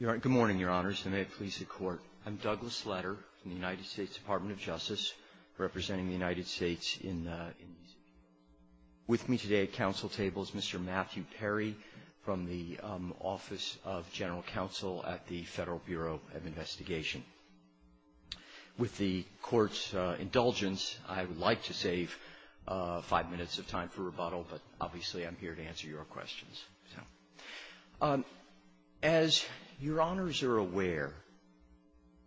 Good morning, Your Honors, and may it please the Court, I'm Douglas Leder from the United States Department of Justice, representing the United States in these issues. With me today at council table is Mr. Matthew Perry from the Office of General Counsel at the Federal Bureau of Investigation. With the Court's indulgence, I would like to save five here to answer your questions. As Your Honors are aware,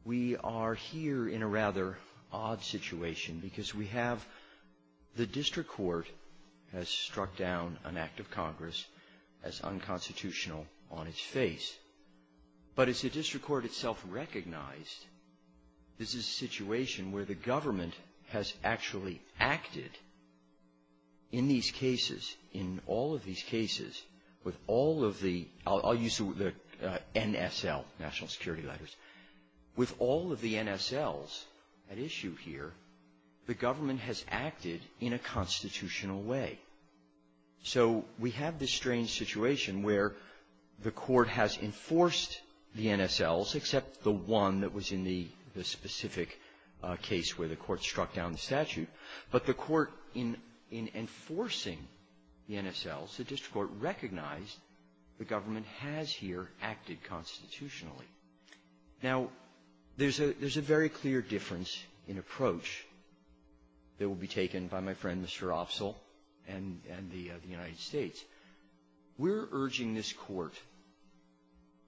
we are here in a rather odd situation because we have the district court has struck down an act of Congress as unconstitutional on its face. But as the district court itself recognized, this is a situation where the court, in all of these cases, with all of the, I'll use the NSL, national security letters, with all of the NSLs at issue here, the government has acted in a constitutional way. So we have this strange situation where the court has enforced the NSLs, except the one that was in the specific case where the court struck down the statute. But the court, in enforcing the NSLs, the district court recognized the government has here acted constitutionally. Now, there's a very clear difference in approach that will be taken by my friend, Mr. Opsahl, and the United States. We're urging this Court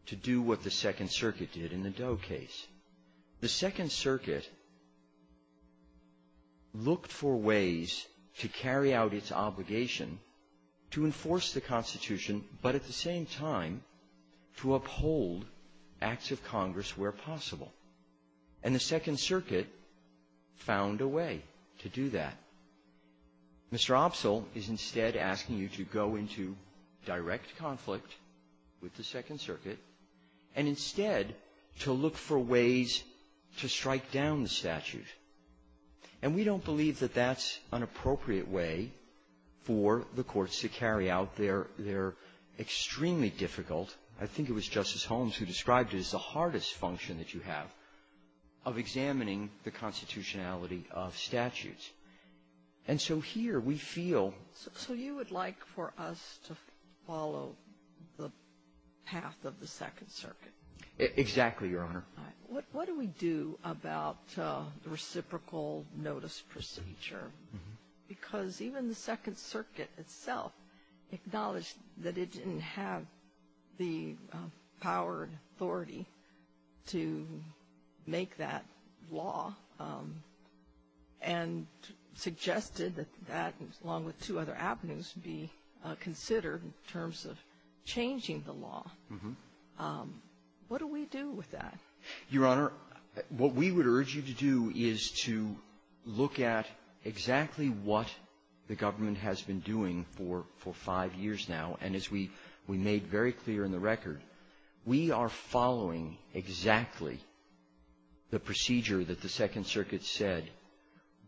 to do what the Second Circuit did in the Doe case. The Second Circuit looked for ways to carry out its obligation to enforce the Constitution, but at the same time, to uphold acts of Congress where possible. And the Second Circuit found a way to do that. Mr. Opsahl is instead asking you to go into direct conflict with the Second Circuit and instead to look for ways to strike down the statute. And we don't believe that that's an appropriate way for the courts to carry out. They're extremely difficult. I think it was Justice Holmes who described it as the hardest function that you have of examining the constitutionality of statutes. And so here, we feel --------- to follow the path of the Second Circuit. Exactly, Your Honor. What do we do about the reciprocal notice procedure? Because even the Second Circuit itself acknowledged that it didn't have the power and authority to make that law and suggested that that, along with two other avenues, be considered in terms of changing the law. What do we do with that? Your Honor, what we would urge you to do is to look at exactly what the government has been doing for five years now. And as we made very clear in the record, we are following exactly the procedure that the Second Circuit said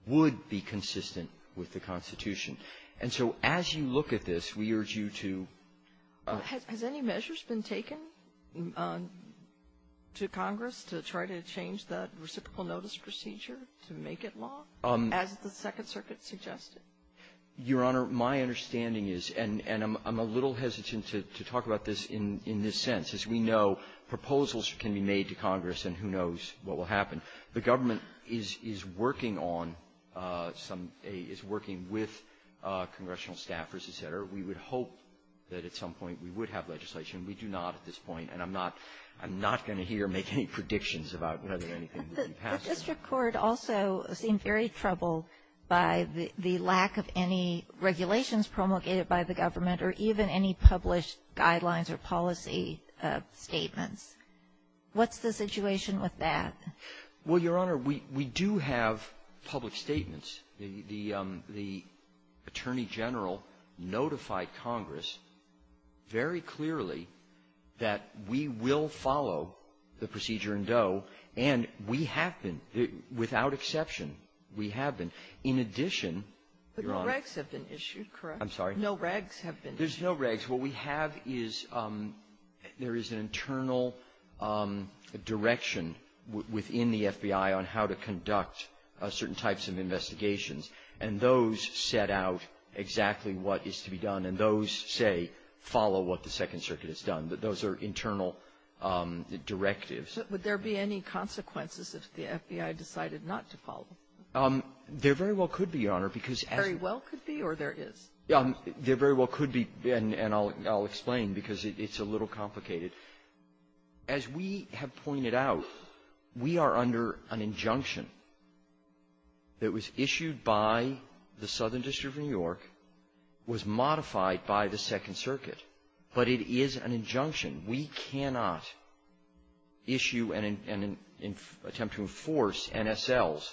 would be consistent with the Constitution. And so as you look at this, we urge you to ---- Has any measures been taken to Congress to try to change the reciprocal notice procedure to make it law, as the Second Circuit suggested? Your Honor, my understanding is, and I'm a little hesitant to talk about this in this sense, is we know proposals can be made to Congress, and who knows what will happen. The government is working on some ---- is working with congressional staffers, et cetera. We would hope that at some point we would have legislation. We do not at this point. And I'm not going to hear or make any predictions about whether anything will be passed. The district court also seemed very troubled by the lack of any regulations promulgated by the government, or even any published guidelines or policy statements. What's the situation with that? Well, Your Honor, we do have public statements. The Attorney General notified Congress very clearly that we will follow the procedure in Doe, and we have been, without exception, we have been. In addition, Your Honor ---- But no regs have been issued, correct? I'm sorry? No regs have been issued. There's no regs. What we have is there is an internal direction within the FBI on how to conduct certain types of investigations, and those set out exactly what is to be done. And those say, follow what the Second Circuit has done. Those are internal directives. Would there be any consequences if the FBI decided not to follow? There very well could be, Your Honor, because as ---- Very well could be, or there is? There very well could be, and I'll explain, because it's a little complicated. As we have pointed out, we are under an injunction that was issued by the Southern District of New York, was modified by the Second Circuit. But it is an injunction. We cannot issue and attempt to enforce NSLs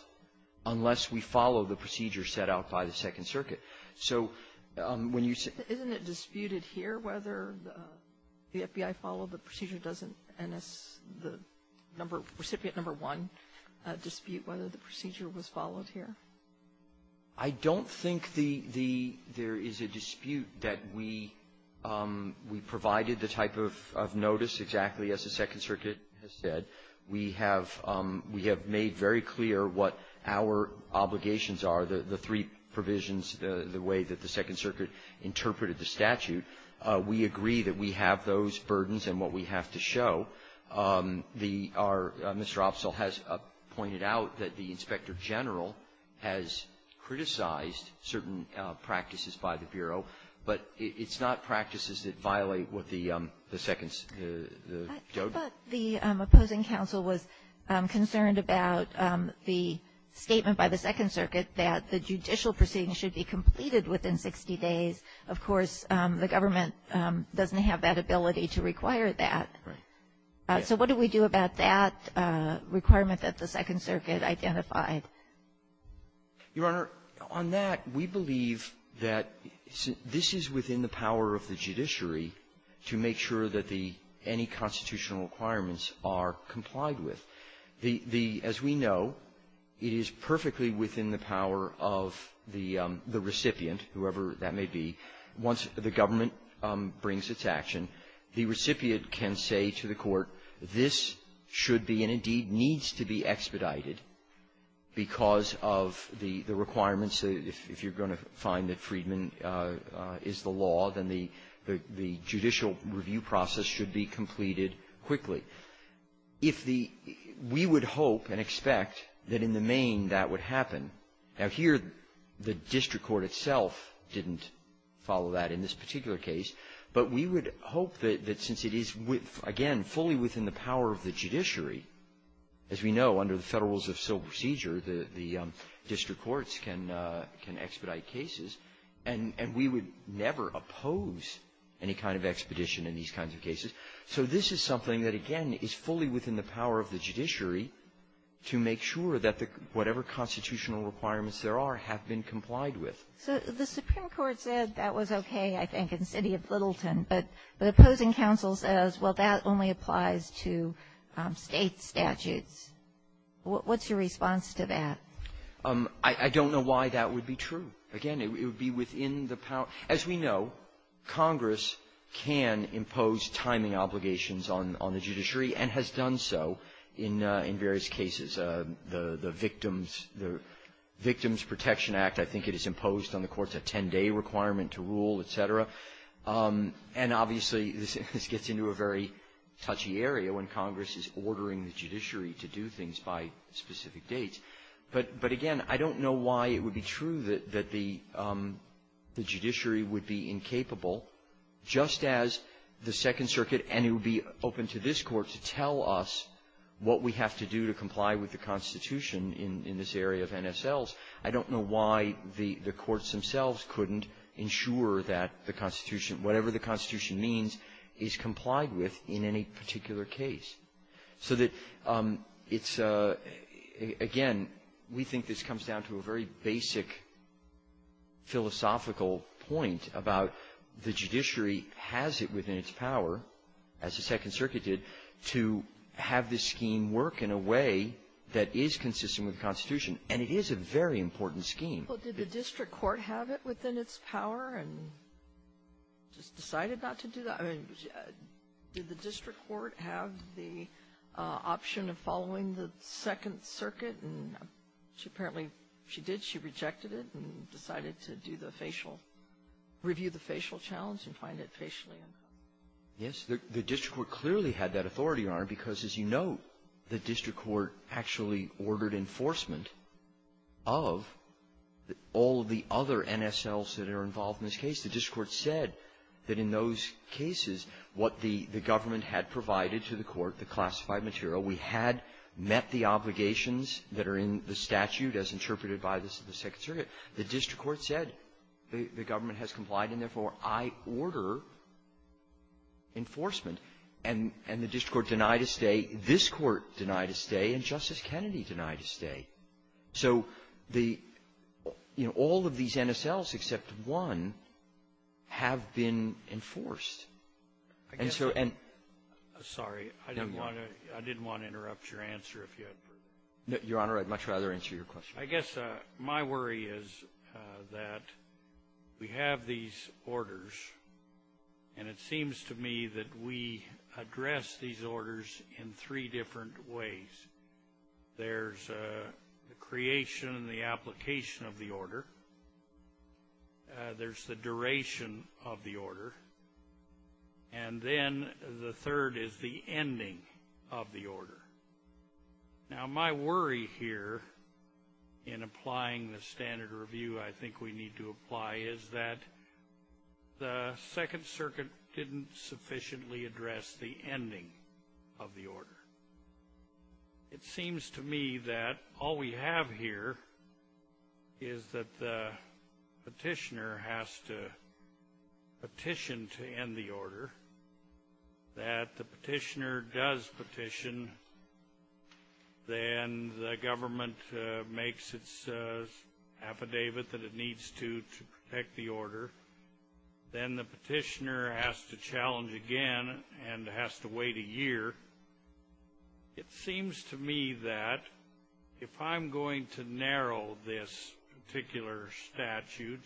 unless we follow the procedure set out by the Second Circuit. So when you say ---- Isn't it disputed here whether the FBI followed the procedure, doesn't NS, the number, recipient number one, dispute whether the procedure was followed here? I don't think the ---- there is a dispute that we provided the type of notice exactly as the Second Circuit has said. We have made very clear what our obligations are, the three provisions the way that the Second Circuit interpreted the statute. We agree that we have those burdens and what we have to show. The ---- our ---- Mr. Opsahl has pointed out that the Inspector General has criticized certain practices by the Bureau, but it's not practices that violate what the Second ---- I thought the opposing counsel was concerned about the statement by the Second Circuit that the proceeding should be completed within 60 days. Of course, the government doesn't have that ability to require that. So what do we do about that requirement that the Second Circuit identified? Your Honor, on that, we believe that this is within the power of the judiciary to make sure that the any constitutional requirements are complied with. The ---- the ---- as we know, it is perfectly within the power of the recipient, whoever that may be. Once the government brings its action, the recipient can say to the court, this should be and, indeed, needs to be expedited because of the requirements. If you're going to find that Friedman is the law, then the judicial review process should be completed quickly. If the ---- we would hope and expect that in the main that would happen. Now, here, the district court itself didn't follow that in this particular case. But we would hope that since it is, again, fully within the power of the judiciary, as we know, under the Federal Rules of Civil Procedure, the district courts can expedite cases, and we would never oppose any kind of expedition in these kinds of cases. So this is something that, again, is fully within the power of the judiciary to make sure that the ---- whatever constitutional requirements there are have been complied with. Ginsburg. So the Supreme Court said that was okay, I think, in the city of Littleton, but the opposing counsel says, well, that only applies to State statutes. What's your response to that? Verrilli, I don't know why that would be true. Again, it would be within the power ---- as we know, Congress can impose timing obligations on the judiciary and has done so in various cases. The Victims Protection Act, I think it is imposed on the courts, a 10-day requirement to rule, et cetera. And obviously, this gets into a very touchy area when Congress is ordering the judiciary to do things by specific dates. But, again, I don't know why it would be true that the judiciary would be incapable just as the Second Circuit, and it would be open to this Court, to tell us what we have to do to comply with the Constitution in this area of NSLs. I don't know why the courts themselves couldn't ensure that the Constitution, whatever the Constitution means, is complied with in any particular case. So that it's a ---- again, we think this comes down to a very basic philosophical point about the judiciary has it within its power, as the Second Circuit did, to have this scheme work in a way that is consistent with the Constitution. And it is a very important scheme. Sotomayor, did the district court have it within its power and just decided not to do that? I mean, did the district court have the option of following the Second Circuit? Apparently, she did. She rejected it and decided to do the facial ---- review the facial challenge and find it facially. Yes. The district court clearly had that authority, Your Honor, because, as you note, the district court actually ordered enforcement of all of the other NSLs that are involved in this case. The district court said that in those cases, what the government had provided to the Second Circuit, the district court said the government has complied, and therefore, I order enforcement. And the district court denied a stay, this Court denied a stay, and Justice Kennedy denied a stay. So the ---- you know, all of these NSLs, except one, have been enforced. And so ---- I guess ---- And so ---- I'm sorry. I didn't want to interrupt your answer if you had further questions. No, Your Honor, I'd much rather answer your question. I guess my worry is that we have these orders, and it seems to me that we address these orders in three different ways. There's the creation and the application of the order. There's the duration of the order. And then the third is the ending of the order. Now, my worry here in applying the standard review I think we need to apply is that the Second Circuit didn't sufficiently address the ending of the order. It seems to me that all we have here is that the petitioner has to petition to end the order, that the petitioner does petition, then the government makes its affidavit that it needs to to protect the order. Then the petitioner has to challenge again and has to wait a year. It seems to me that if I'm going to narrow this particular statute,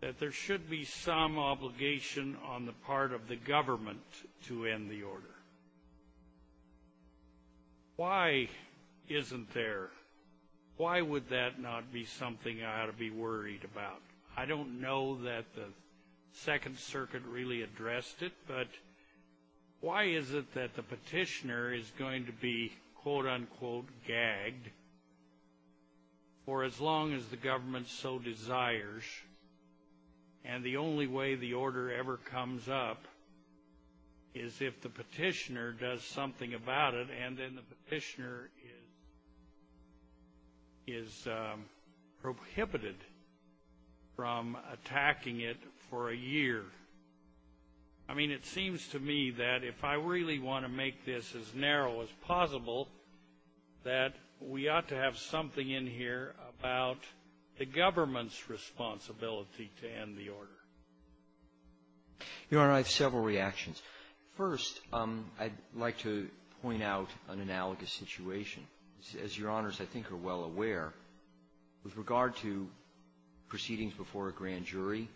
that there should be some obligation on the part of the government to end the order. Why isn't there? Why would that not be something I ought to be worried about? I don't know that the Second Circuit really addressed it, but why is it that the petitioner is going to be quote-unquote gagged for as long as the government so desires? And the only way the order ever comes up is if the petitioner does something about it and then the petitioner is prohibited from attacking it for a year. I mean, it seems to me that if I really want to make this as narrow as possible, that we ought to have something in here about the government's responsibility to end the order. Your Honor, I have several reactions. First, I'd like to point out an analogous situation. As Your Honors, I think, are well aware, with regard to proceedings before a grand jury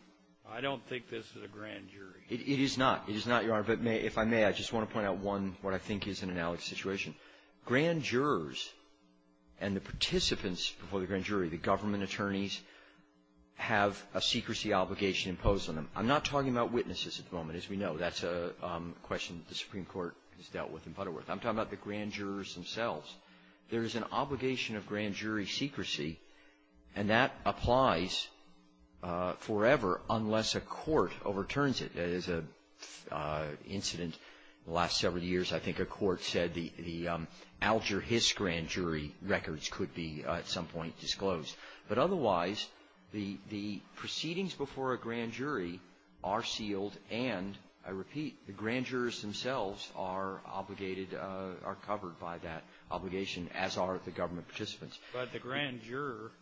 I don't think this is a grand jury. It is not. It is not, Your Honor, but if I may, I just want to point out one, what I think is an analogous situation. Grand jurors and the participants before the grand jury, the government attorneys, have a secrecy obligation imposed on them. I'm not talking about witnesses at the moment, as we know. That's a question the Supreme Court has dealt with in Butterworth. I'm talking about the grand jurors themselves. There is an obligation of grand jury secrecy and that applies forever unless a court overturns it. There's an incident in the last several years. I think a court said the Alger Hiss grand jury records could be at some point disclosed. But otherwise, the proceedings before a grand jury are sealed and, I repeat, the grand jurors themselves are obligated to, are covered by that obligation, as are the government participants. But the grand juror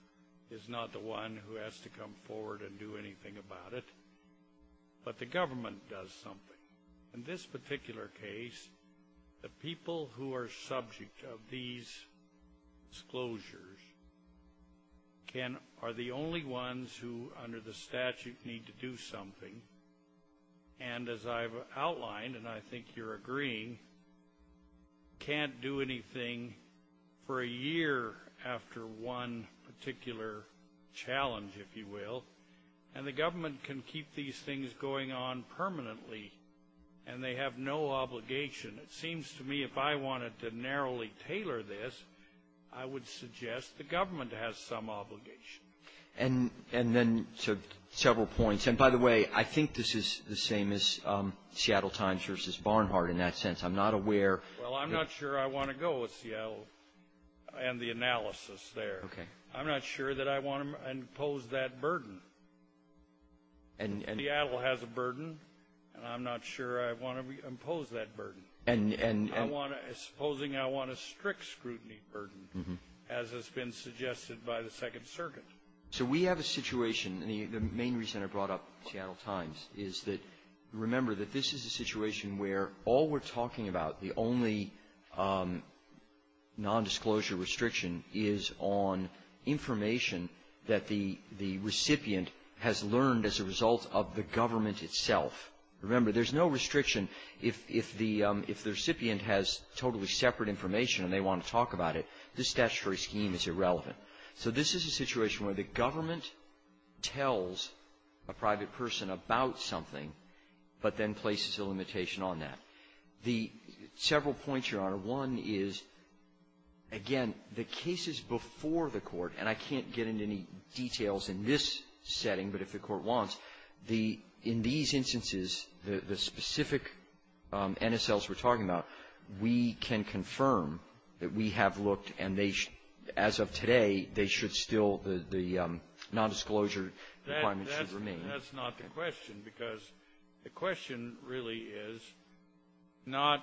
is not the one who has to come forward and do anything about it. But the government does something. In this particular case, the people who are subject of these disclosures are the only ones who, under the statute, need to do something. And as I've outlined, and I think you're agreeing, can't do anything for a year after one particular challenge, if you will. And the government can keep these things going on permanently. And they have no obligation. It seems to me if I wanted to narrowly tailor this, I would suggest the government has some obligation. And then to several points. And by the way, I think this is the same as Seattle Times v. Barnhart in that sense. I'm not aware of the ---- Well, I'm not sure I want to go with Seattle and the analysis there. Okay. I'm not sure that I want to impose that burden. And the ---- And Seattle has a burden, and I'm not sure I want to impose that burden. And I want to ---- Supposing I want a strict scrutiny burden, as has been suggested by the Second Circuit. So we have a situation, and the main reason I brought up Seattle Times is that, remember, that this is a situation where all we're talking about, the only nondisclosure restriction is on information that the recipient has learned as a result of the government itself. Remember, there's no restriction if the recipient has totally separate information and they want to talk about it, this statutory scheme is irrelevant. So this is a situation where the government tells a private person about something, but then places a limitation on that. The several points, Your Honor. One is, again, the cases before the Court, and I can't get into any details in this setting, but if the Court wants, the ---- in these instances, the specific NSLs we're talking about, we can confirm that we have looked and they should, as of today, they should still, the nondisclosure requirement should remain. That's not the question, because the question really is not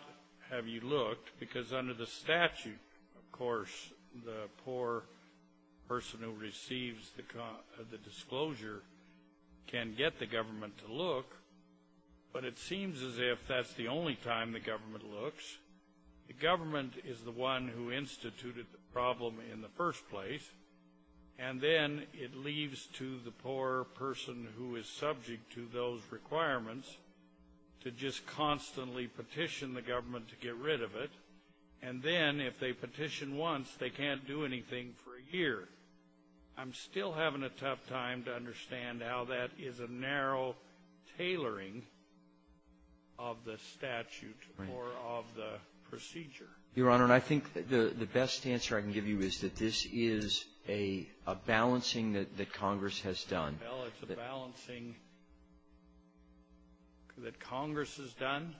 have you looked, because under the statute, of course, the poor person who receives the disclosure can get the government to look, but it seems as if that's the only time the government looks. The government is the one who instituted the problem in the first place, and then it leaves to the poor person who is subject to those requirements to just constantly petition the government to get rid of it, and then, if they petition once, they can't do anything for a year. I'm still having a tough time to understand how that is a narrow tailoring of the statute or of the procedure. Right. Your Honor, and I think the best answer I can give you is that this is a balancing that Congress has done. Well, it's a balancing that Congress has done?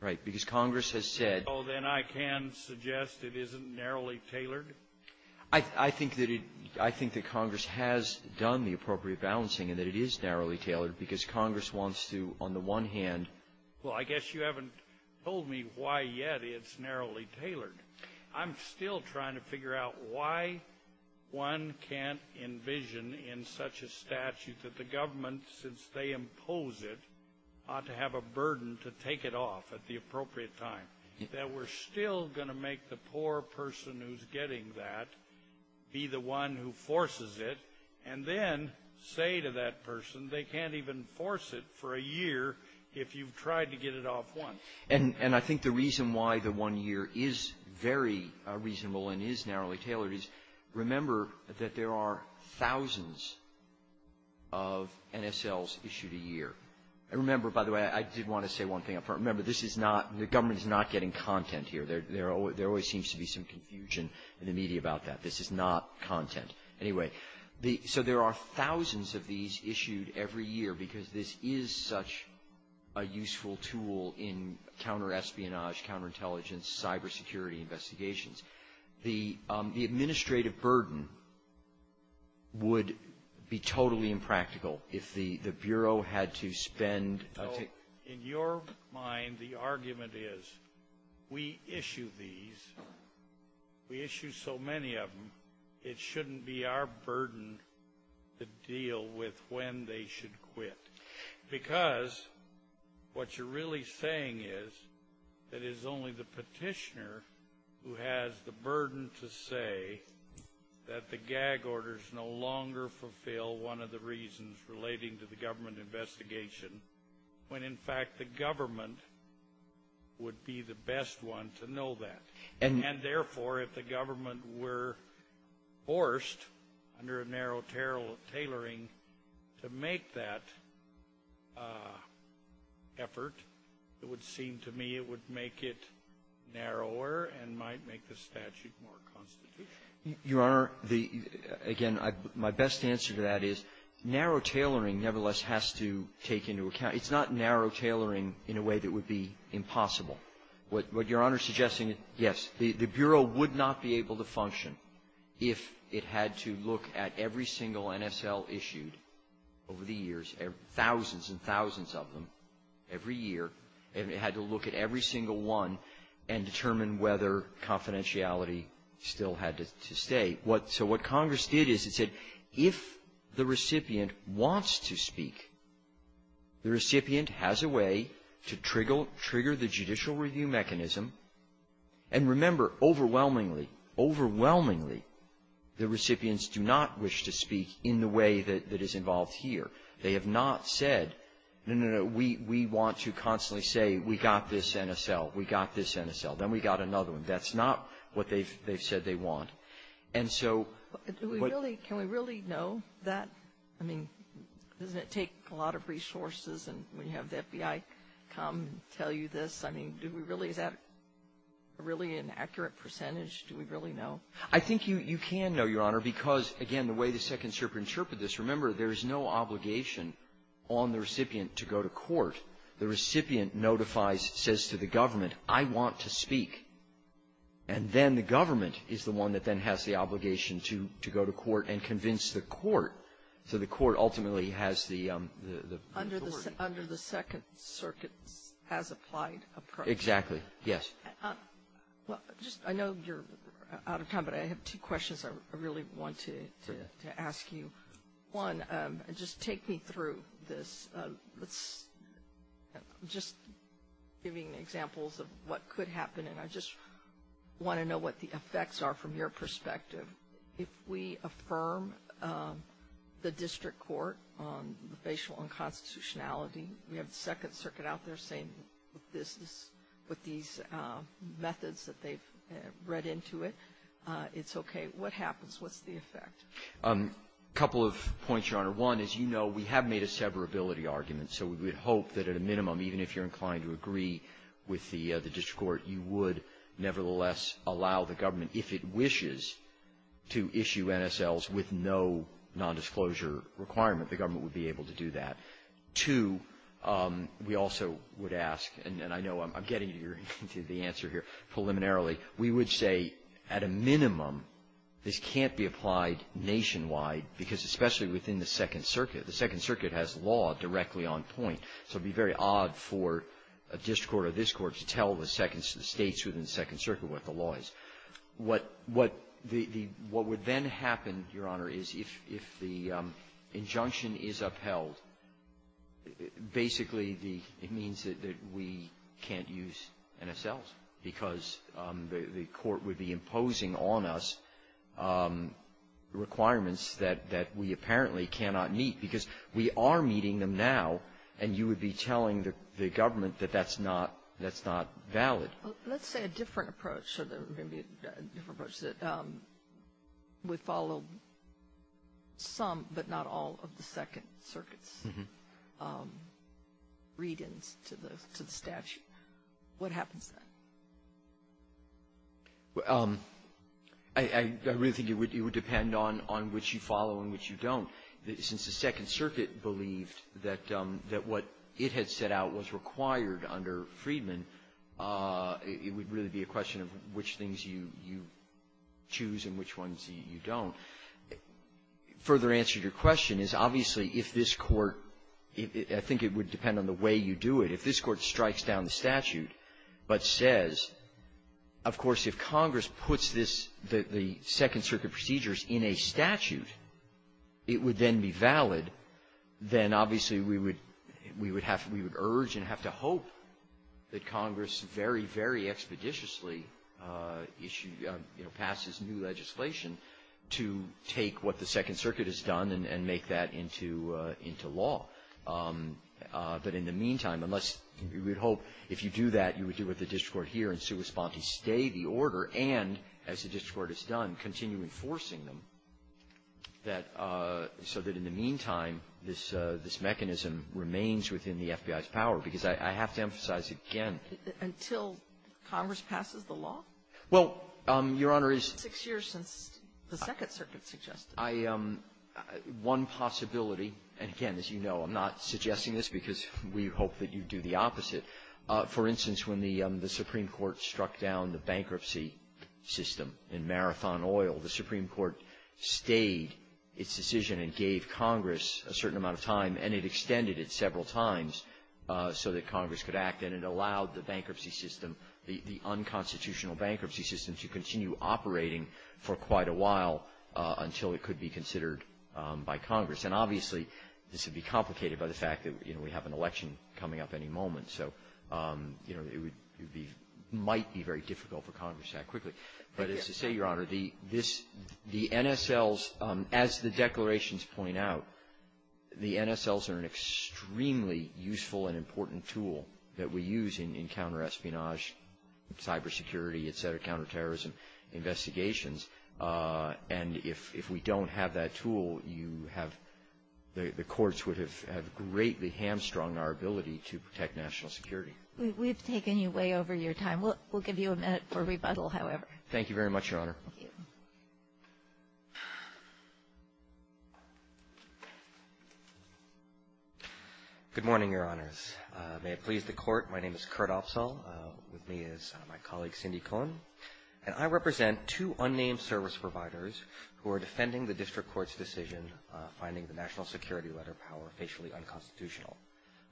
Right. Because Congress has said — Well, then I can suggest it isn't narrowly tailored? I think that it — I think that Congress has done the appropriate balancing and that it is narrowly tailored, because Congress wants to, on the one hand — Well, I guess you haven't told me why, yet, it's narrowly tailored. I'm still trying to figure out why one can't envision in such a statute that the government, since they impose it, ought to have a burden to take it off at the appropriate time, that we're still going to make the poor person who's getting that be the one who forces it, and then say to that person they can't even force it for a year if you've tried to get it off once. And I think the reason why the one year is very reasonable and is narrowly tailored is remember that there are thousands of NSLs issued a year. And remember, by the way, I did want to say one thing up front. Remember, this is not — the government is not getting content here. There always seems to be some confusion in the media about that. This is not content. Anyway, so there are thousands of these issued every year because this is such a useful tool in counter-espionage, counterintelligence, cybersecurity investigations. The administrative burden would be totally impractical if the Bureau had to spend — So, in your mind, the argument is we issue these, we issue so many of them, it shouldn't be our burden to deal with when they should quit. Because what you're really saying is that it is only the petitioner who has the burden to say that the gag orders no longer fulfill one of the reasons relating to the government investigation, when in fact the government would be the best one to know that. And therefore, if the government were forced under a narrow tailoring to make that effort, it would seem to me it would make it narrower and might make the statute more constitutional. Your Honor, the — again, my best answer to that is narrow tailoring nevertheless has to take into account — it's not narrow tailoring in a way that would be impossible. What Your Honor is suggesting is, yes, the Bureau would not be able to function if it had to look at every single NSL issued over the years, thousands and thousands of them every year, and it had to look at every single one and determine whether confidentiality still had to stay. So what Congress did is it said if the recipient wants to speak, the recipient has a way to trigger the judicial review mechanism. And remember, overwhelmingly, overwhelmingly, the recipients do not wish to speak in the way that is involved here. They have not said, no, no, no, we want to constantly say we got this NSL, we got this NSL, then we got another one. That's not what they've said they want. And so — Can we really know that? I mean, doesn't it take a lot of resources when you have the FBI come and tell you this? I mean, do we really — is that really an accurate percentage? Do we really know? I think you can know, Your Honor, because, again, the way the Second Circuit interpreted this, remember, there is no obligation on the recipient to go to court. The recipient notifies — says to the government, I want to speak. And then the government is the one that then has the obligation to go to court and convince the court so the court ultimately has the authority. Under the Second Circuit's as-applied approach? Exactly. Yes. Well, just — I know you're out of time, but I have two questions I really want to ask you. One, just take me through this. Let's — just giving examples of what could happen, and I just want to know what the effects are from your perspective. If we affirm the district court on the facial unconstitutionality, we have the Second Circuit out there saying this is — with these methods that they've read into it, it's okay. What happens? What's the effect? A couple of points, Your Honor. One, as you know, we have made a severability argument, so we would hope that at a minimum, even if you're inclined to agree with the district court, you would nevertheless allow the government, if it wishes, to issue NSLs with no nondisclosure requirement. The government would be able to do that. Two, we also would ask — and I know I'm getting into the answer here preliminarily — we would say at a minimum, this can't be applied nationwide, because especially within the Second Circuit. The Second Circuit has law directly on point, so it would be very odd for a district court to tell the states within the Second Circuit what the law is. What would then happen, Your Honor, is if the injunction is upheld, basically it means that we can't use NSLs, because the court would be imposing on us requirements that we apparently cannot meet, because we are meeting them now, and you would be telling the government that that's not valid. Let's say a different approach, or maybe a different approach, that would follow some but not all of the Second Circuit's read-ins to the statute. What happens then? I really think it would depend on which you follow and which you don't. Since the Second Circuit believed that what it had set out was required under Freedman, it would really be a question of which things you choose and which ones you don't. Further answer to your question is, obviously, if this court — I think it would depend on the way you do it. If this court strikes down the statute but says, of course, if Congress puts this — the statute would then be valid, then obviously we would have — we would urge and have to hope that Congress very, very expeditiously issue — you know, passes new legislation to take what the Second Circuit has done and make that into law. But in the meantime, unless — we would hope if you do that, you would do what the district court here in sua sponte, stay the order, and, as the district court has done, continue enforcing them, that — so that in the meantime, this mechanism remains within the FBI's power. Because I have to emphasize again — Until Congress passes the law? Well, Your Honor, it's — Six years since the Second Circuit suggested it. I — one possibility, and again, as you know, I'm not suggesting this because we hope that you do the opposite. For instance, when the Supreme Court struck down the bankruptcy system in Marathon Oil, the Supreme Court stayed its decision and gave Congress a certain amount of time, and it extended it several times so that Congress could act, and it allowed the bankruptcy system — the unconstitutional bankruptcy system to continue operating for quite a while until it could be considered by Congress. And obviously, this would be complicated by the fact that, you know, we have an election coming up any moment, so, you know, it would be — might be very difficult for Congress to act quickly. But as I say, Your Honor, the — this — the NSLs, as the declarations point out, the NSLs are an extremely useful and important tool that we use in counterespionage, cybersecurity, et cetera, counterterrorism investigations. And if we don't have that tool, you have — the courts would have greatly hamstrung our ability to protect national security. We've taken you way over your time. We'll give you a minute for rebuttal, however. Thank you very much, Your Honor. Thank you. Good morning, Your Honors. May it please the Court, my name is Kurt Opsahl. With me is my colleague Cindy Cohen, and I represent two unnamed service providers who are defending the district court's decision finding the national security letter power facially unconstitutional.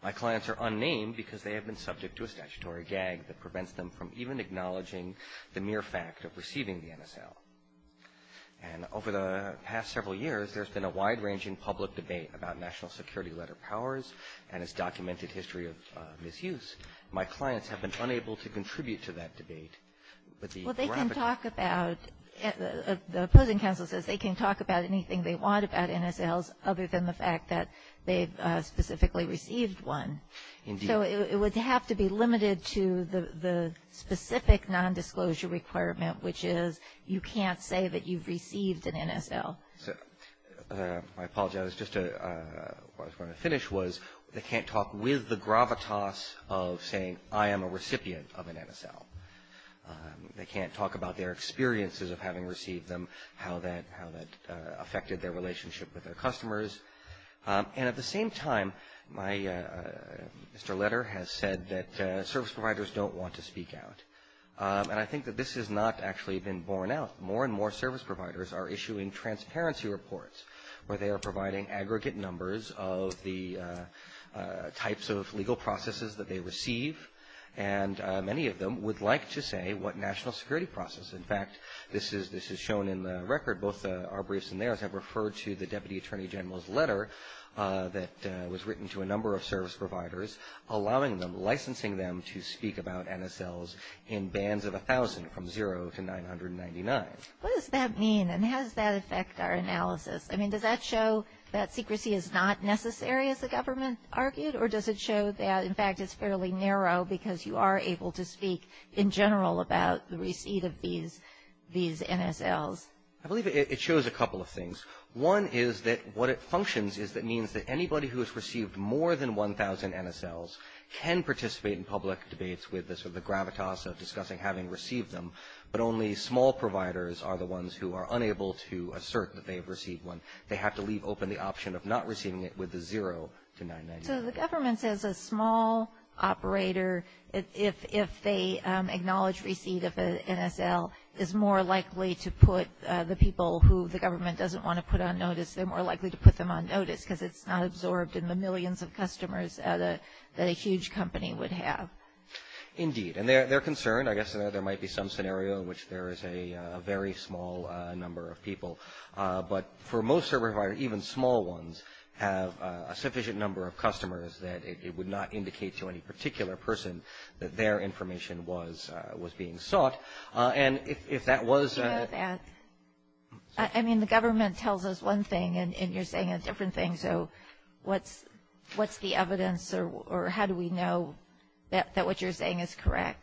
My clients are unnamed because they have been subject to a statutory gag that prevents them from even acknowledging the mere fact of receiving the NSL. And over the past several years, there's been a wide-ranging public debate about national security letter powers and its documented history of misuse. My clients have been unable to contribute to that debate. Well, they can talk about — the opposing counsel says they can talk about anything they want about NSLs other than the fact that they've specifically received one. Indeed. So it would have to be limited to the specific nondisclosure requirement, which is you can't say that you've received an NSL. I apologize. Just to — what I was going to finish was they can't talk with the gravitas of saying, I am a recipient of an NSL. They can't talk about their experiences of having received them, how that affected their relationship with their customers. And at the same time, my — Mr. Letter has said that service providers don't want to speak out. And I think that this has not actually been borne out. More and more service providers are issuing transparency reports where they are providing aggregate numbers of the types of legal processes that they receive. And many of them would like to say what national security process. In fact, this is shown in the record. Both our briefs and theirs have referred to the Deputy Attorney General's letter that was written to a number of service providers, allowing them, licensing them to speak about NSLs in bands of 1,000 from zero to 999. What does that mean? And how does that affect our analysis? I mean, does that show that secrecy is not necessary, as the government argued? Or does it show that, in fact, it's fairly narrow because you are able to speak in general about the receipt of these NSLs? I believe it shows a couple of things. One is that what it functions is that means that anybody who has received more than 1,000 NSLs can participate in public debates with the gravitas of discussing having received them. But only small providers are the ones who are unable to assert that they have received one. They have to leave open the option of not receiving it with the zero to 999. So the government says a small operator, if they acknowledge receipt of an NSL, is more likely to put the people who the government doesn't want to put on notice, they're more likely to put them on notice because it's not absorbed in the millions of customers that a huge company would have. Indeed. And they're concerned. I guess there might be some scenario in which there is a very small number of people. But for most server providers, even small ones, have a sufficient number of customers that it would not indicate to any particular person that their information was being sought. And if that was... You know that. I mean, the government tells us one thing and you're saying a different thing. So what's the evidence or how do we know that what you're saying is correct?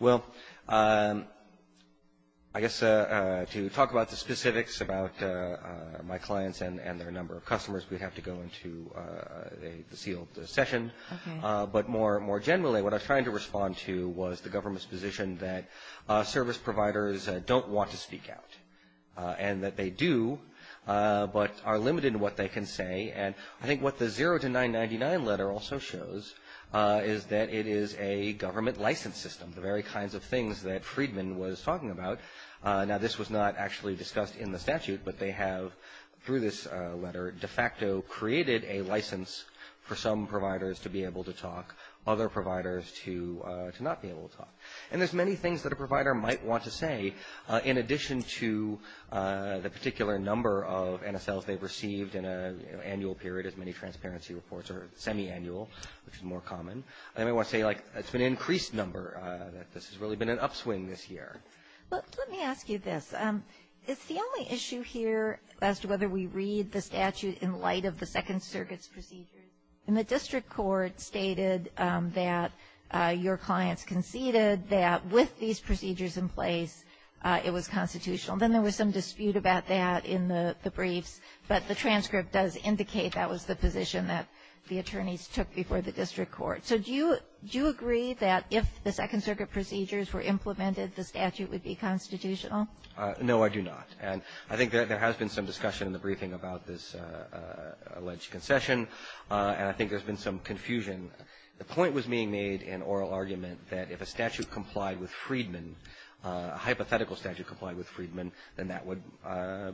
Well, I guess to talk about the specifics about my clients and their number of customers, we'd have to go into a sealed session. But more generally, what I was trying to respond to was the government's position that service providers don't want to speak out. And that they do, but are limited in what they can say. And I think what the 0 to 999 letter also shows is that it is a government license system. The very kinds of things that Friedman was talking about. Now, this was not actually discussed in the statute, but they have, through this letter, de facto created a license for some providers to be able to talk. Other providers to not be able to talk. And there's many things that a provider might want to say in addition to the particular number of NSLs they've received in an annual period, as many transparency reports are semi-annual, which is more common. They might want to say, like, it's an increased number. That this has really been an upswing this year. Let me ask you this. It's the only issue here as to whether we read the statute in light of the Second Circuit's procedures. And the district court stated that your clients conceded that with these procedures in place, it was constitutional. Then there was some dispute about that in the briefs. But the transcript does indicate that was the position that the attorneys took before the district court. So do you agree that if the Second Circuit procedures were implemented, the statute would be constitutional? No, I do not. And I think there has been some discussion in the briefing about this alleged concession. And I think there's been some confusion. The point was being made in oral argument that if a statute complied with Friedman, a hypothetical statute complied with Friedman, then that would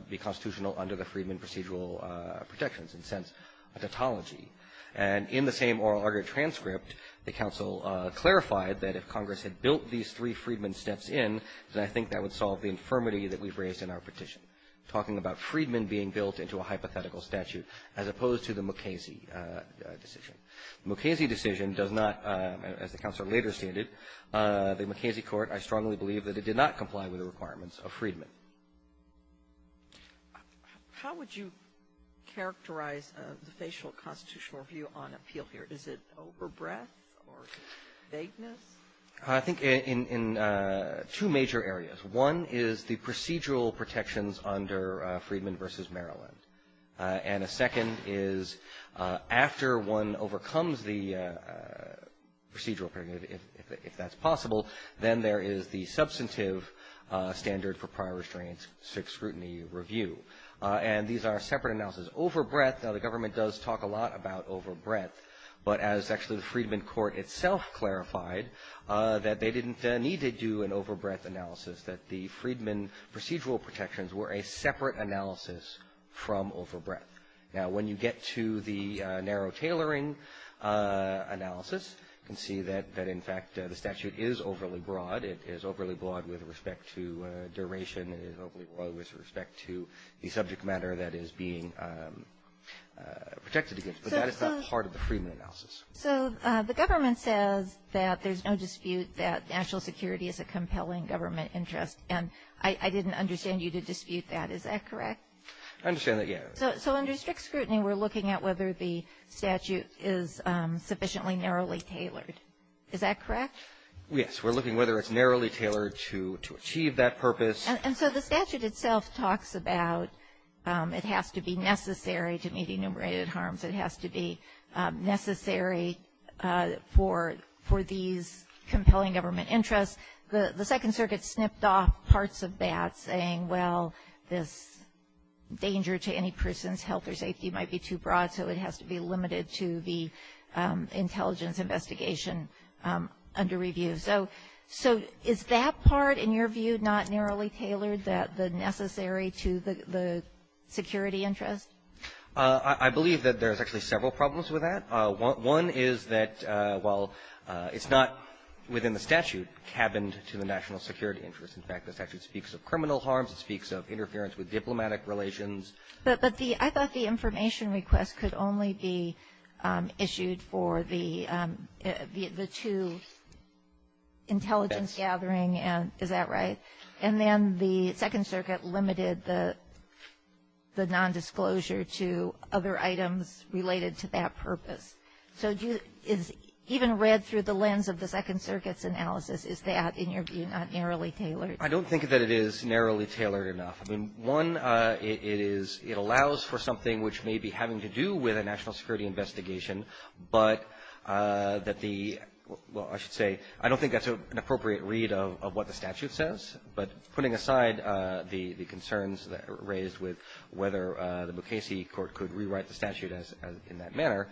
be constitutional under the Friedman procedural protections, in a sense, a tautology. And in the same oral argument transcript, the counsel clarified that if Congress had built these three Friedman steps in, then I think that would solve the infirmity that we've raised in our petition, talking about Friedman being built into a hypothetical statute as opposed to the Mukasey decision. The Mukasey decision does not, as the counsel later stated, the Mukasey court, I strongly believe that it did not comply with the requirements of Friedman. How would you characterize the facial constitutional view on appeal here? Is it overbreadth or vagueness? I think in two major areas. One is the procedural protections under Friedman v. Maryland. And a second is after one overcomes the procedural period, if that's possible, then there is the substantive standard for prior restraints scrutiny review. And these are separate analysis. Overbreadth, now the government does talk a lot about overbreadth. But as actually the Friedman court itself clarified, that they didn't need to do an overbreadth analysis, that the Friedman procedural protections were a separate analysis from overbreadth. Now, when you get to the narrow tailoring analysis, you can see that, in fact, the statute is overly broad. It is overly broad with respect to duration. It is overly broad with respect to the subject matter that is being protected against. But that is not part of the Friedman analysis. So the government says that there's no dispute that national security is a compelling government interest. And I didn't understand you to dispute that. Is that correct? I understand that, yes. So under strict scrutiny, we're looking at whether the statute is sufficiently narrowly tailored. Is that correct? Yes. We're looking whether it's narrowly tailored to achieve that purpose. And so the statute itself talks about it has to be necessary to meet enumerated harms. It has to be necessary for these compelling government interests. The Second Circuit snipped off parts of that saying, well, this danger to any person's health or safety might be too broad, so it has to be limited to the intelligence investigation under review. So is that part, in your view, not narrowly tailored, the necessary to the security interest? I believe that there's actually several problems with that. One is that, well, it's not within the statute cabined to the national security interest. In fact, the statute speaks of criminal harms. It speaks of interference with diplomatic relations. But I thought the information request could only be issued for the two intelligence gathering. Is that right? And then the Second Circuit limited the nondisclosure to other items related to that purpose. So even read through the lens of the Second Circuit's analysis, is that, in your view, not narrowly tailored? I don't think that it is narrowly tailored enough. I mean, one, it is — it allows for something which may be having to do with a national security investigation, but that the — well, I should say, I don't think that's an appropriate read of what the statute says. But putting aside the concerns raised with whether the Mukasey court could rewrite the statute in that manner,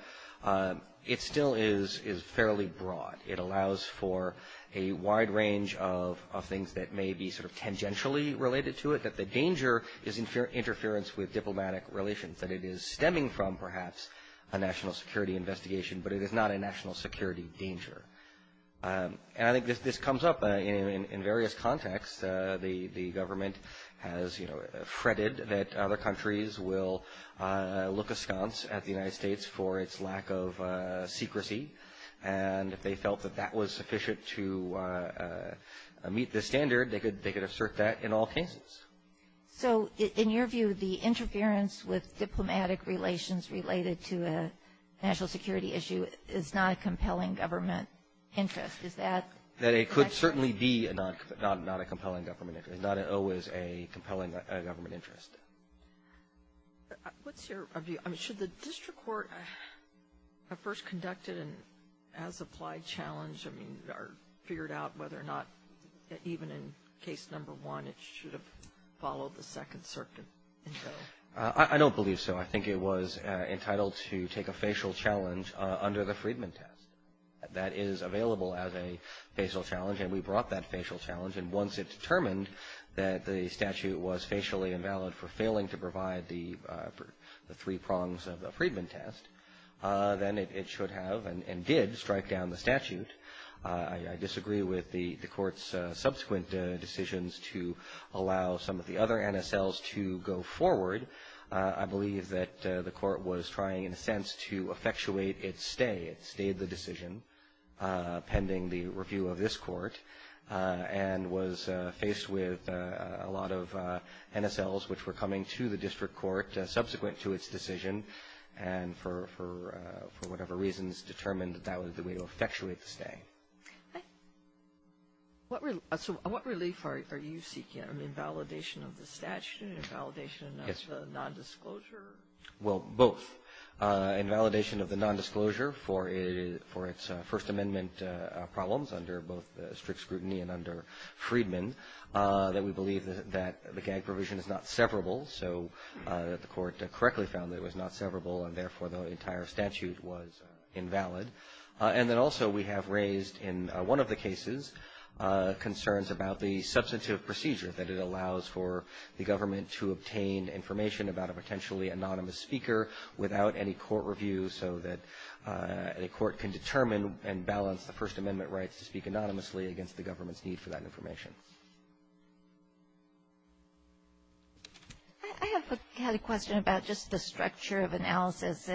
it still is fairly broad. It allows for a wide range of things that may be sort of tangentially related to it, that the danger is interference with diplomatic relations, that it is stemming from, perhaps, a national security investigation, but it is not a national security danger. And I think this comes up in various contexts. The government has, you know, fretted that other countries will look askance at the United States for its lack of secrecy. And if they felt that that was sufficient to meet the standard, they could — they could assert that in all cases. So in your view, the interference with diplomatic relations related to a national security issue is not a compelling government interest. Is that — That it could certainly be not a compelling government — not always a compelling government interest. What's your view? Should the district court have first conducted an as-applied challenge, I mean, or figured out whether or not, even in case number one, it should have followed the Second Circuit? I don't believe so. I think it was entitled to take a facial challenge under the Friedman test. That is available as a facial challenge, and we brought that facial challenge. And once it determined that the statute was facially invalid for failing to provide the three prongs of the Friedman test, then it should have and did strike down the statute. I disagree with the court's subsequent decisions to allow some of the other NSLs to go forward. I believe that the court was trying, in a sense, to effectuate its stay. It stayed the decision, pending the review of this court, and was faced with a lot of NSLs which were coming to the district court subsequent to its decision, and for whatever reasons, determined that that was the way to effectuate the stay. So what relief are you seeking? An invalidation of the statute? An invalidation of the nondisclosure? Well, both. Invalidation of the nondisclosure for its First Amendment problems under both strict scrutiny and under Friedman, that we believe that the gag provision is not severable, so that the court correctly found that it was not severable, and therefore the entire statute was invalid. And then also we have raised, in one of the cases, concerns about the substantive procedure that it allows for the government to obtain information about a potentially anonymous speaker without any court review, so that a court can determine and balance the First Amendment rights to speak anonymously against the government's need for that information. I have a question about just the structure of analysis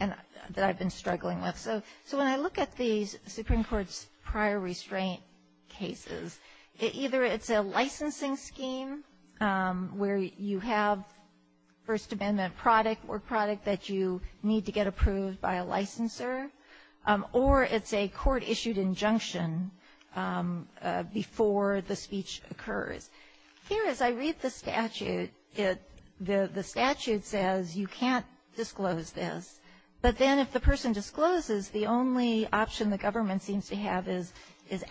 that I've been struggling with. So when I look at the Supreme Court's prior restraint cases, either it's a licensing scheme where you have First Amendment product or product that you need to get approved by a licensor, or it's a court-issued injunction before the speech occurs. Here, as I read the statute, the statute says you can't disclose this. But then if the person discloses, the only option the government seems to have is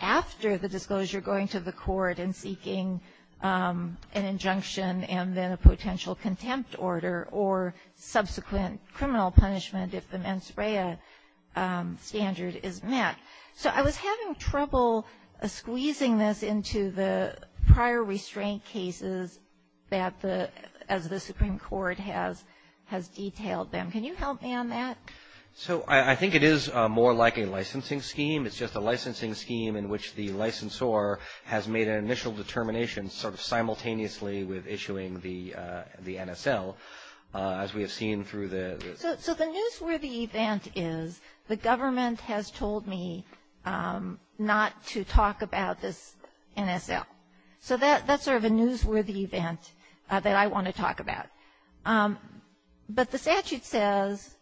after the disclosure, going to the court and seeking an injunction and then a potential contempt order or subsequent criminal punishment if the mens rea standard is met. So I was having trouble squeezing this into the prior restraint cases as the Supreme Court has detailed them. Can you help me on that? So I think it is more like a licensing scheme. It's just a licensing scheme in which the licensor has made an initial determination sort of simultaneously with issuing the NSL, as we have seen through the So the newsworthy event is the government has told me not to talk about this NSL. So that's sort of a newsworthy event that I want to talk about. But the statute says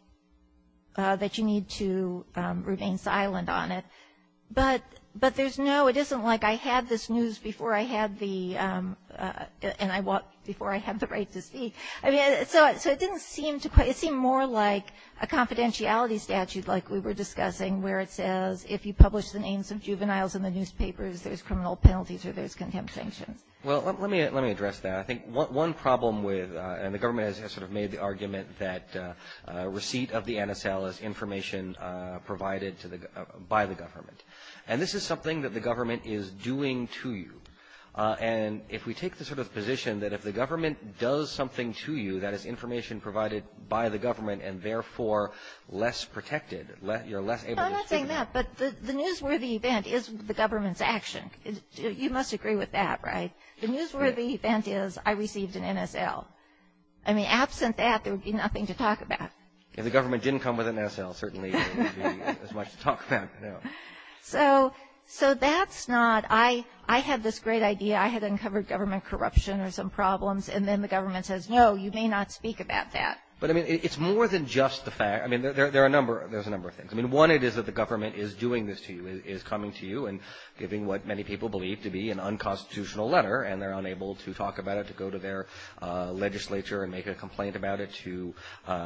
that you need to remain silent on it. But there's no, it isn't like I had this news before I had the and I walked before I had the right to speak. I mean, so it didn't seem to quite, it seemed more like a confidentiality statute like we were discussing where it says if you publish the names of juveniles in the newspapers, there's criminal penalties or there's contempt sanctions. Well, let me address that. I think one problem with, and the government has sort of made the argument that receipt of the NSL is information provided by the government. And this is something that the government is doing to you. And if we take the sort of position that if the government does something to you that is information provided by the government and therefore less protected, you're less able to speak. No, I'm not saying that. But the newsworthy event is the government's action. You must agree with that, right? The newsworthy event is I received an NSL. I mean, absent that, there would be nothing to talk about. If the government didn't come with an NSL, certainly there wouldn't be as much to talk about. No. So that's not – I had this great idea. I had uncovered government corruption or some problems. And then the government says, no, you may not speak about that. But, I mean, it's more than just the fact – I mean, there are a number – there's a number of things. I mean, one, it is that the government is doing this to you, is coming to you and giving what many people believe to be an unconstitutional letter. And they're unable to talk about it, to go to their legislature and make a complaint about it, to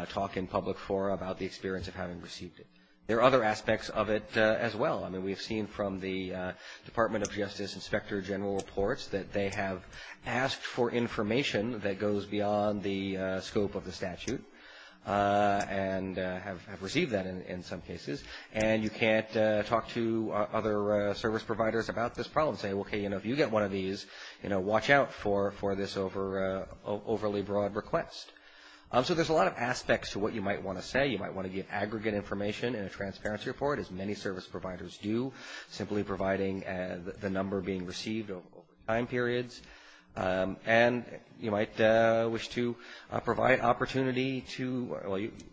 talk in public forum about the experience of having received it. There are other aspects of it as well. I mean, we've seen from the Department of Justice Inspector General reports that they have asked for information that goes beyond the scope of the statute and have received that in some cases. And you can't talk to other service providers about this problem and say, okay, you know, if you get one of these, you know, watch out for this overly broad request. So there's a lot of aspects to what you might want to say. You might want to give aggregate information in a transparency report, as many service providers do, simply providing the number being received over time periods. And you might wish to provide opportunity to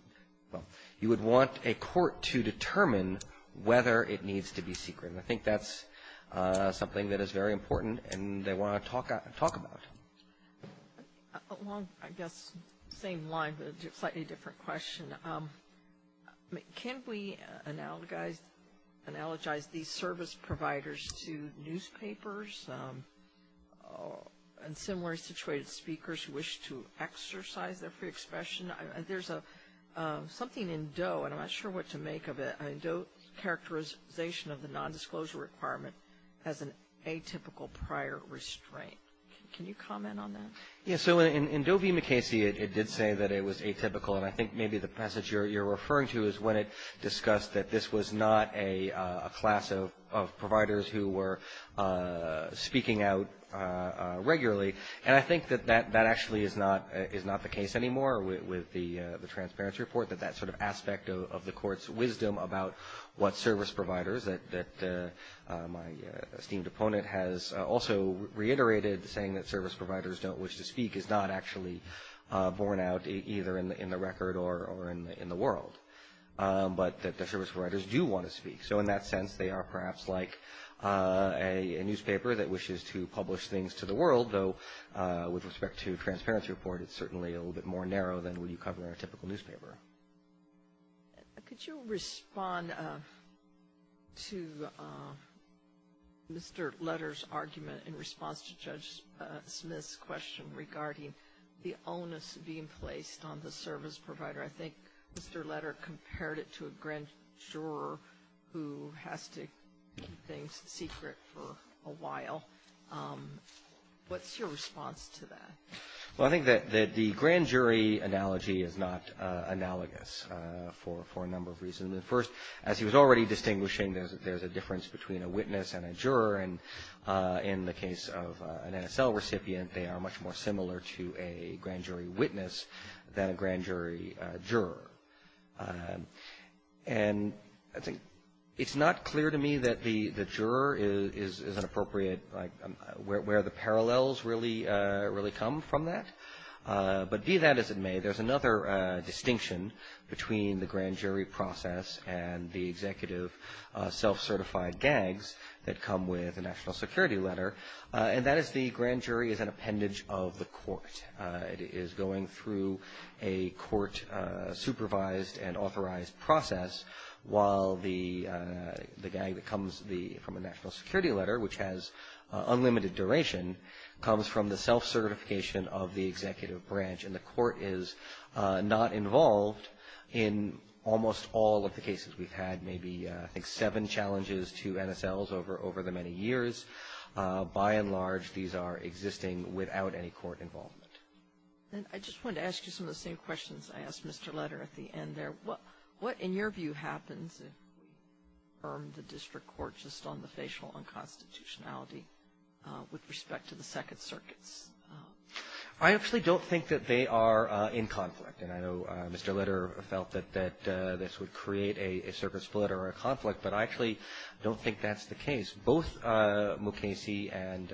– well, you would want a court to determine whether it needs to be secret. And I think that's something that is very important and they want to talk about. Along, I guess, the same line, but a slightly different question. Can we analogize these service providers to newspapers and similarly situated speakers who wish to exercise their free expression? There's something in DOE, and I'm not sure what to make of it, DOE's characterization of the nondisclosure requirement as an atypical prior restraint. Can you comment on that? Yeah, so in DOE v. McKessie, it did say that it was atypical. And I think maybe the passage you're referring to is when it discussed that this was not a class of providers who were speaking out regularly. And I think that that actually is not the case anymore with the transparency report, that that sort of aspect of the court's wisdom about what service providers, that my esteemed opponent has also reiterated saying that service providers don't wish to speak is not actually borne out either in the record or in the world, but that the service providers do want to speak. So in that sense, they are perhaps like a newspaper that wishes to publish things to the world, though with respect to transparency report, it's certainly a little bit more narrow than what you cover in a typical newspaper. Could you respond to Mr. Letter's argument in response to Judge Smith's question regarding the onus being placed on the service provider? I think Mr. Letter compared it to a grand juror who has to keep things secret for a while. What's your response to that? Well, I think that the grand jury analogy is not analogous for a number of reasons. First, as he was already distinguishing, there's a difference between a witness and a juror. And in the case of an NSL recipient, they are much more similar to a grand jury witness than a grand jury juror. And I think it's not clear to me that the juror is an appropriate, where the parallels really come from that. But be that as it may, there's another distinction between the grand jury process and the executive self-certified gags that come with a national security letter. And that is the grand jury is an appendage of the court. It is going through a court-supervised and authorized process while the gag that comes from a national security letter, which has unlimited duration, comes from the self-certification of the executive branch. And the court is not involved in almost all of the cases. We've had maybe, I think, seven challenges to NSLs over the many years. By and large, these are existing without any court involvement. And I just wanted to ask you some of the same questions I asked Mr. Letter at the end there. What, in your view, happens if we arm the district court just on the facial unconstitutionality with respect to the Second Circuits? I actually don't think that they are in conflict. And I know Mr. Letter felt that this would create a circuit split or a conflict, but I actually don't think that's the case. Both Mukasey and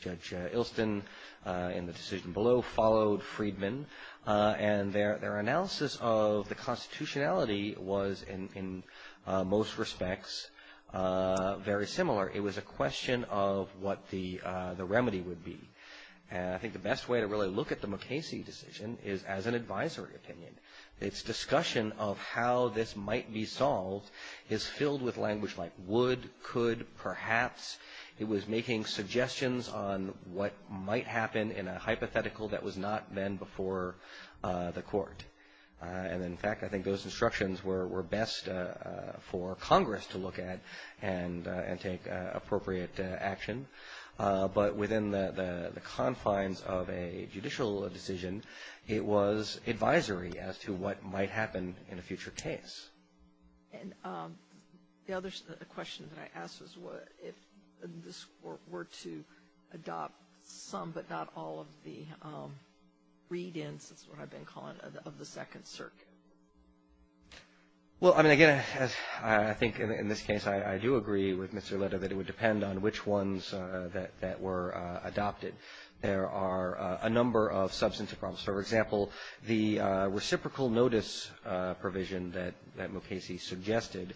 Judge Ilston in the decision below followed Freedman. And their analysis of the constitutionality was, in most respects, very similar. It was a question of what the remedy would be. And I think the best way to really look at the Mukasey decision is as an advisory opinion. Its discussion of how this might be solved is filled with language like would, could, perhaps. It was making suggestions on what might happen in a hypothetical that was not then before the court. And in fact, I think those instructions were best for Congress to look at and take appropriate action. But within the confines of a judicial decision, it was advisory as to what might happen in a future case. And the other question that I asked was if this were to adopt some, but not all of the read-ins, that's what I've been calling it, of the Second Circuit. Well, I mean, again, I think in this case I do agree with Mr. Letter that it would depend on which ones that were adopted. There are a number of substantive problems. For example, the reciprocal notice provision that Mukasey suggested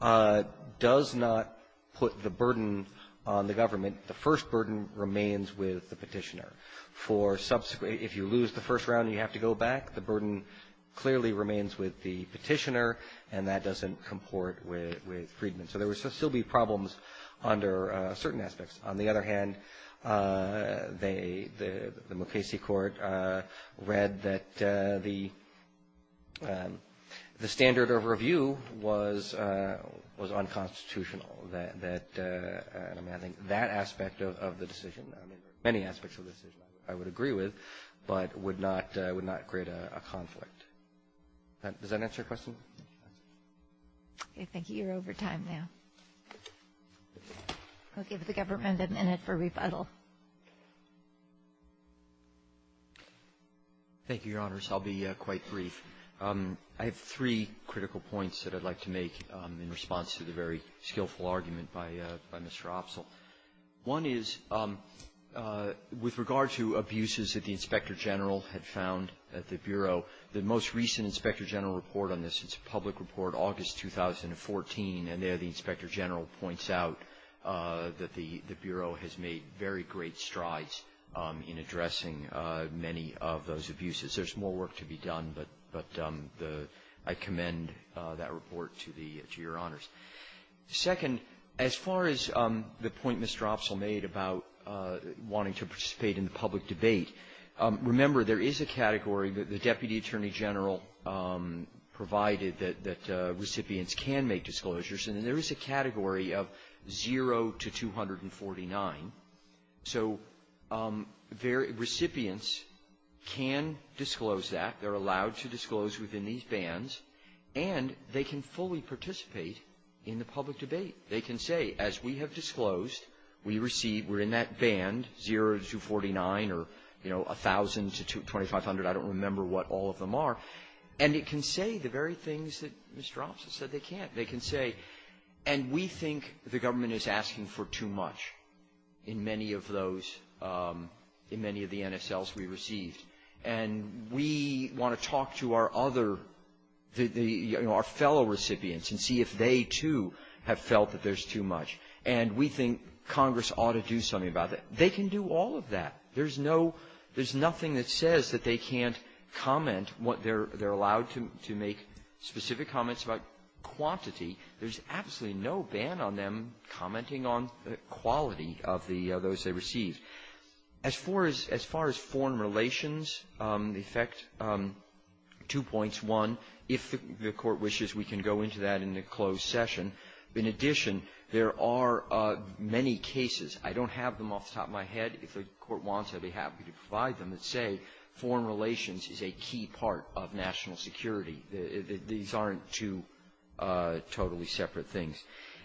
does not put the burden on the government. The first burden remains with the petitioner. For subsequent, if you lose the first round and you have to go back, the burden clearly remains with the petitioner, and that doesn't comport with Friedman. So there would still be problems under certain aspects. On the other hand, the Mukasey court read that the standard of review was unconstitutional, that, I mean, I think that aspect of the decision, many aspects of the decision I would agree with, but would not create a conflict. Does that answer your question? Okay. Thank you. You're over time now. I'll give the government a minute for rebuttal. Thank you, Your Honors. I'll be quite brief. I have three critical points that I'd like to make in response to the very skillful argument by Mr. Opsahl. One is, with regard to abuses that the Inspector General had found at the Bureau, the most recent Inspector General report on this, it's a public report, August 2014, and there the Inspector General points out that the Bureau has made very great strides in addressing many of those abuses. There's more work to be done, but I commend that report to Your Honors. Second, as far as the point Mr. Opsahl made about wanting to participate in the public debate, remember, there is a category that the Deputy Attorney General provided that recipients can make disclosures, and there is a category of 0 to 249. So, recipients can disclose that. They're allowed to disclose within these bands, and they can fully participate in the public debate. They can say, as we have disclosed, we receive, we're in that band, 0 to 249, or they can participate in the public debate. You know, 1,000 to 2,500, I don't remember what all of them are. And it can say the very things that Mr. Opsahl said they can't. They can say, and we think the government is asking for too much in many of those, in many of the NSLs we received. And we want to talk to our other, you know, our fellow recipients and see if they too have felt that there's too much. And we think Congress ought to do something about that. They can do all of that. There's no, there's nothing that says that they can't comment what they're, they're allowed to make specific comments about quantity. There's absolutely no ban on them commenting on the quality of the, of those they received. As far as, as far as foreign relations, the effect, two points. One, if the Court wishes, we can go into that in the closed session. In addition, there are many cases. I don't have them off the top of my head. If the Court wants, I'd be happy to provide them that say foreign relations is a key part of national security. These aren't two totally separate things.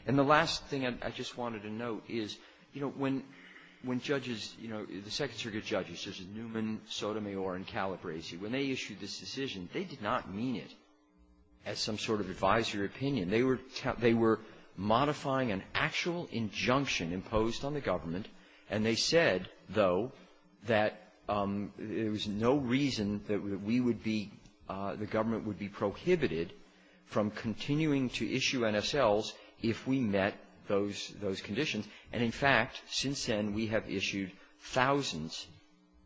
And the last thing I just wanted to note is, you know, when, when judges, you know, the Second Circuit judges, such as Newman, Sotomayor, and Calabresi, when they issued this decision, they did not mean it as some sort of advisory opinion. They were modifying an actual injunction imposed on the government, and they said, though, that there was no reason that we would be, the government would be prohibited from continuing to issue NSLs if we met those, those conditions. And in fact, since then, we have issued thousands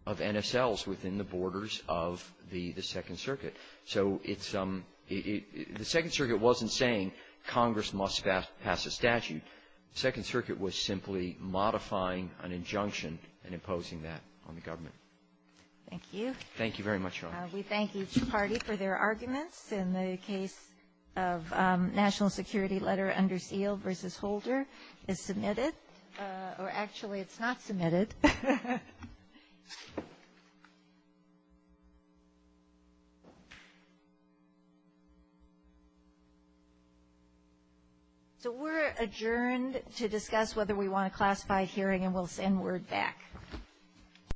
of NSLs within the borders of the Second Circuit. So it's, the Second Circuit wasn't saying Congress must pass a statute. The Second Circuit was simply modifying an injunction and imposing that on the government. Thank you. Thank you very much, Your Honor. We thank each party for their arguments. In the case of National Security Letter, under seal versus holder, is submitted? Or actually, it's not submitted. So we're adjourned to discuss whether we want a classified hearing, and we'll send word back.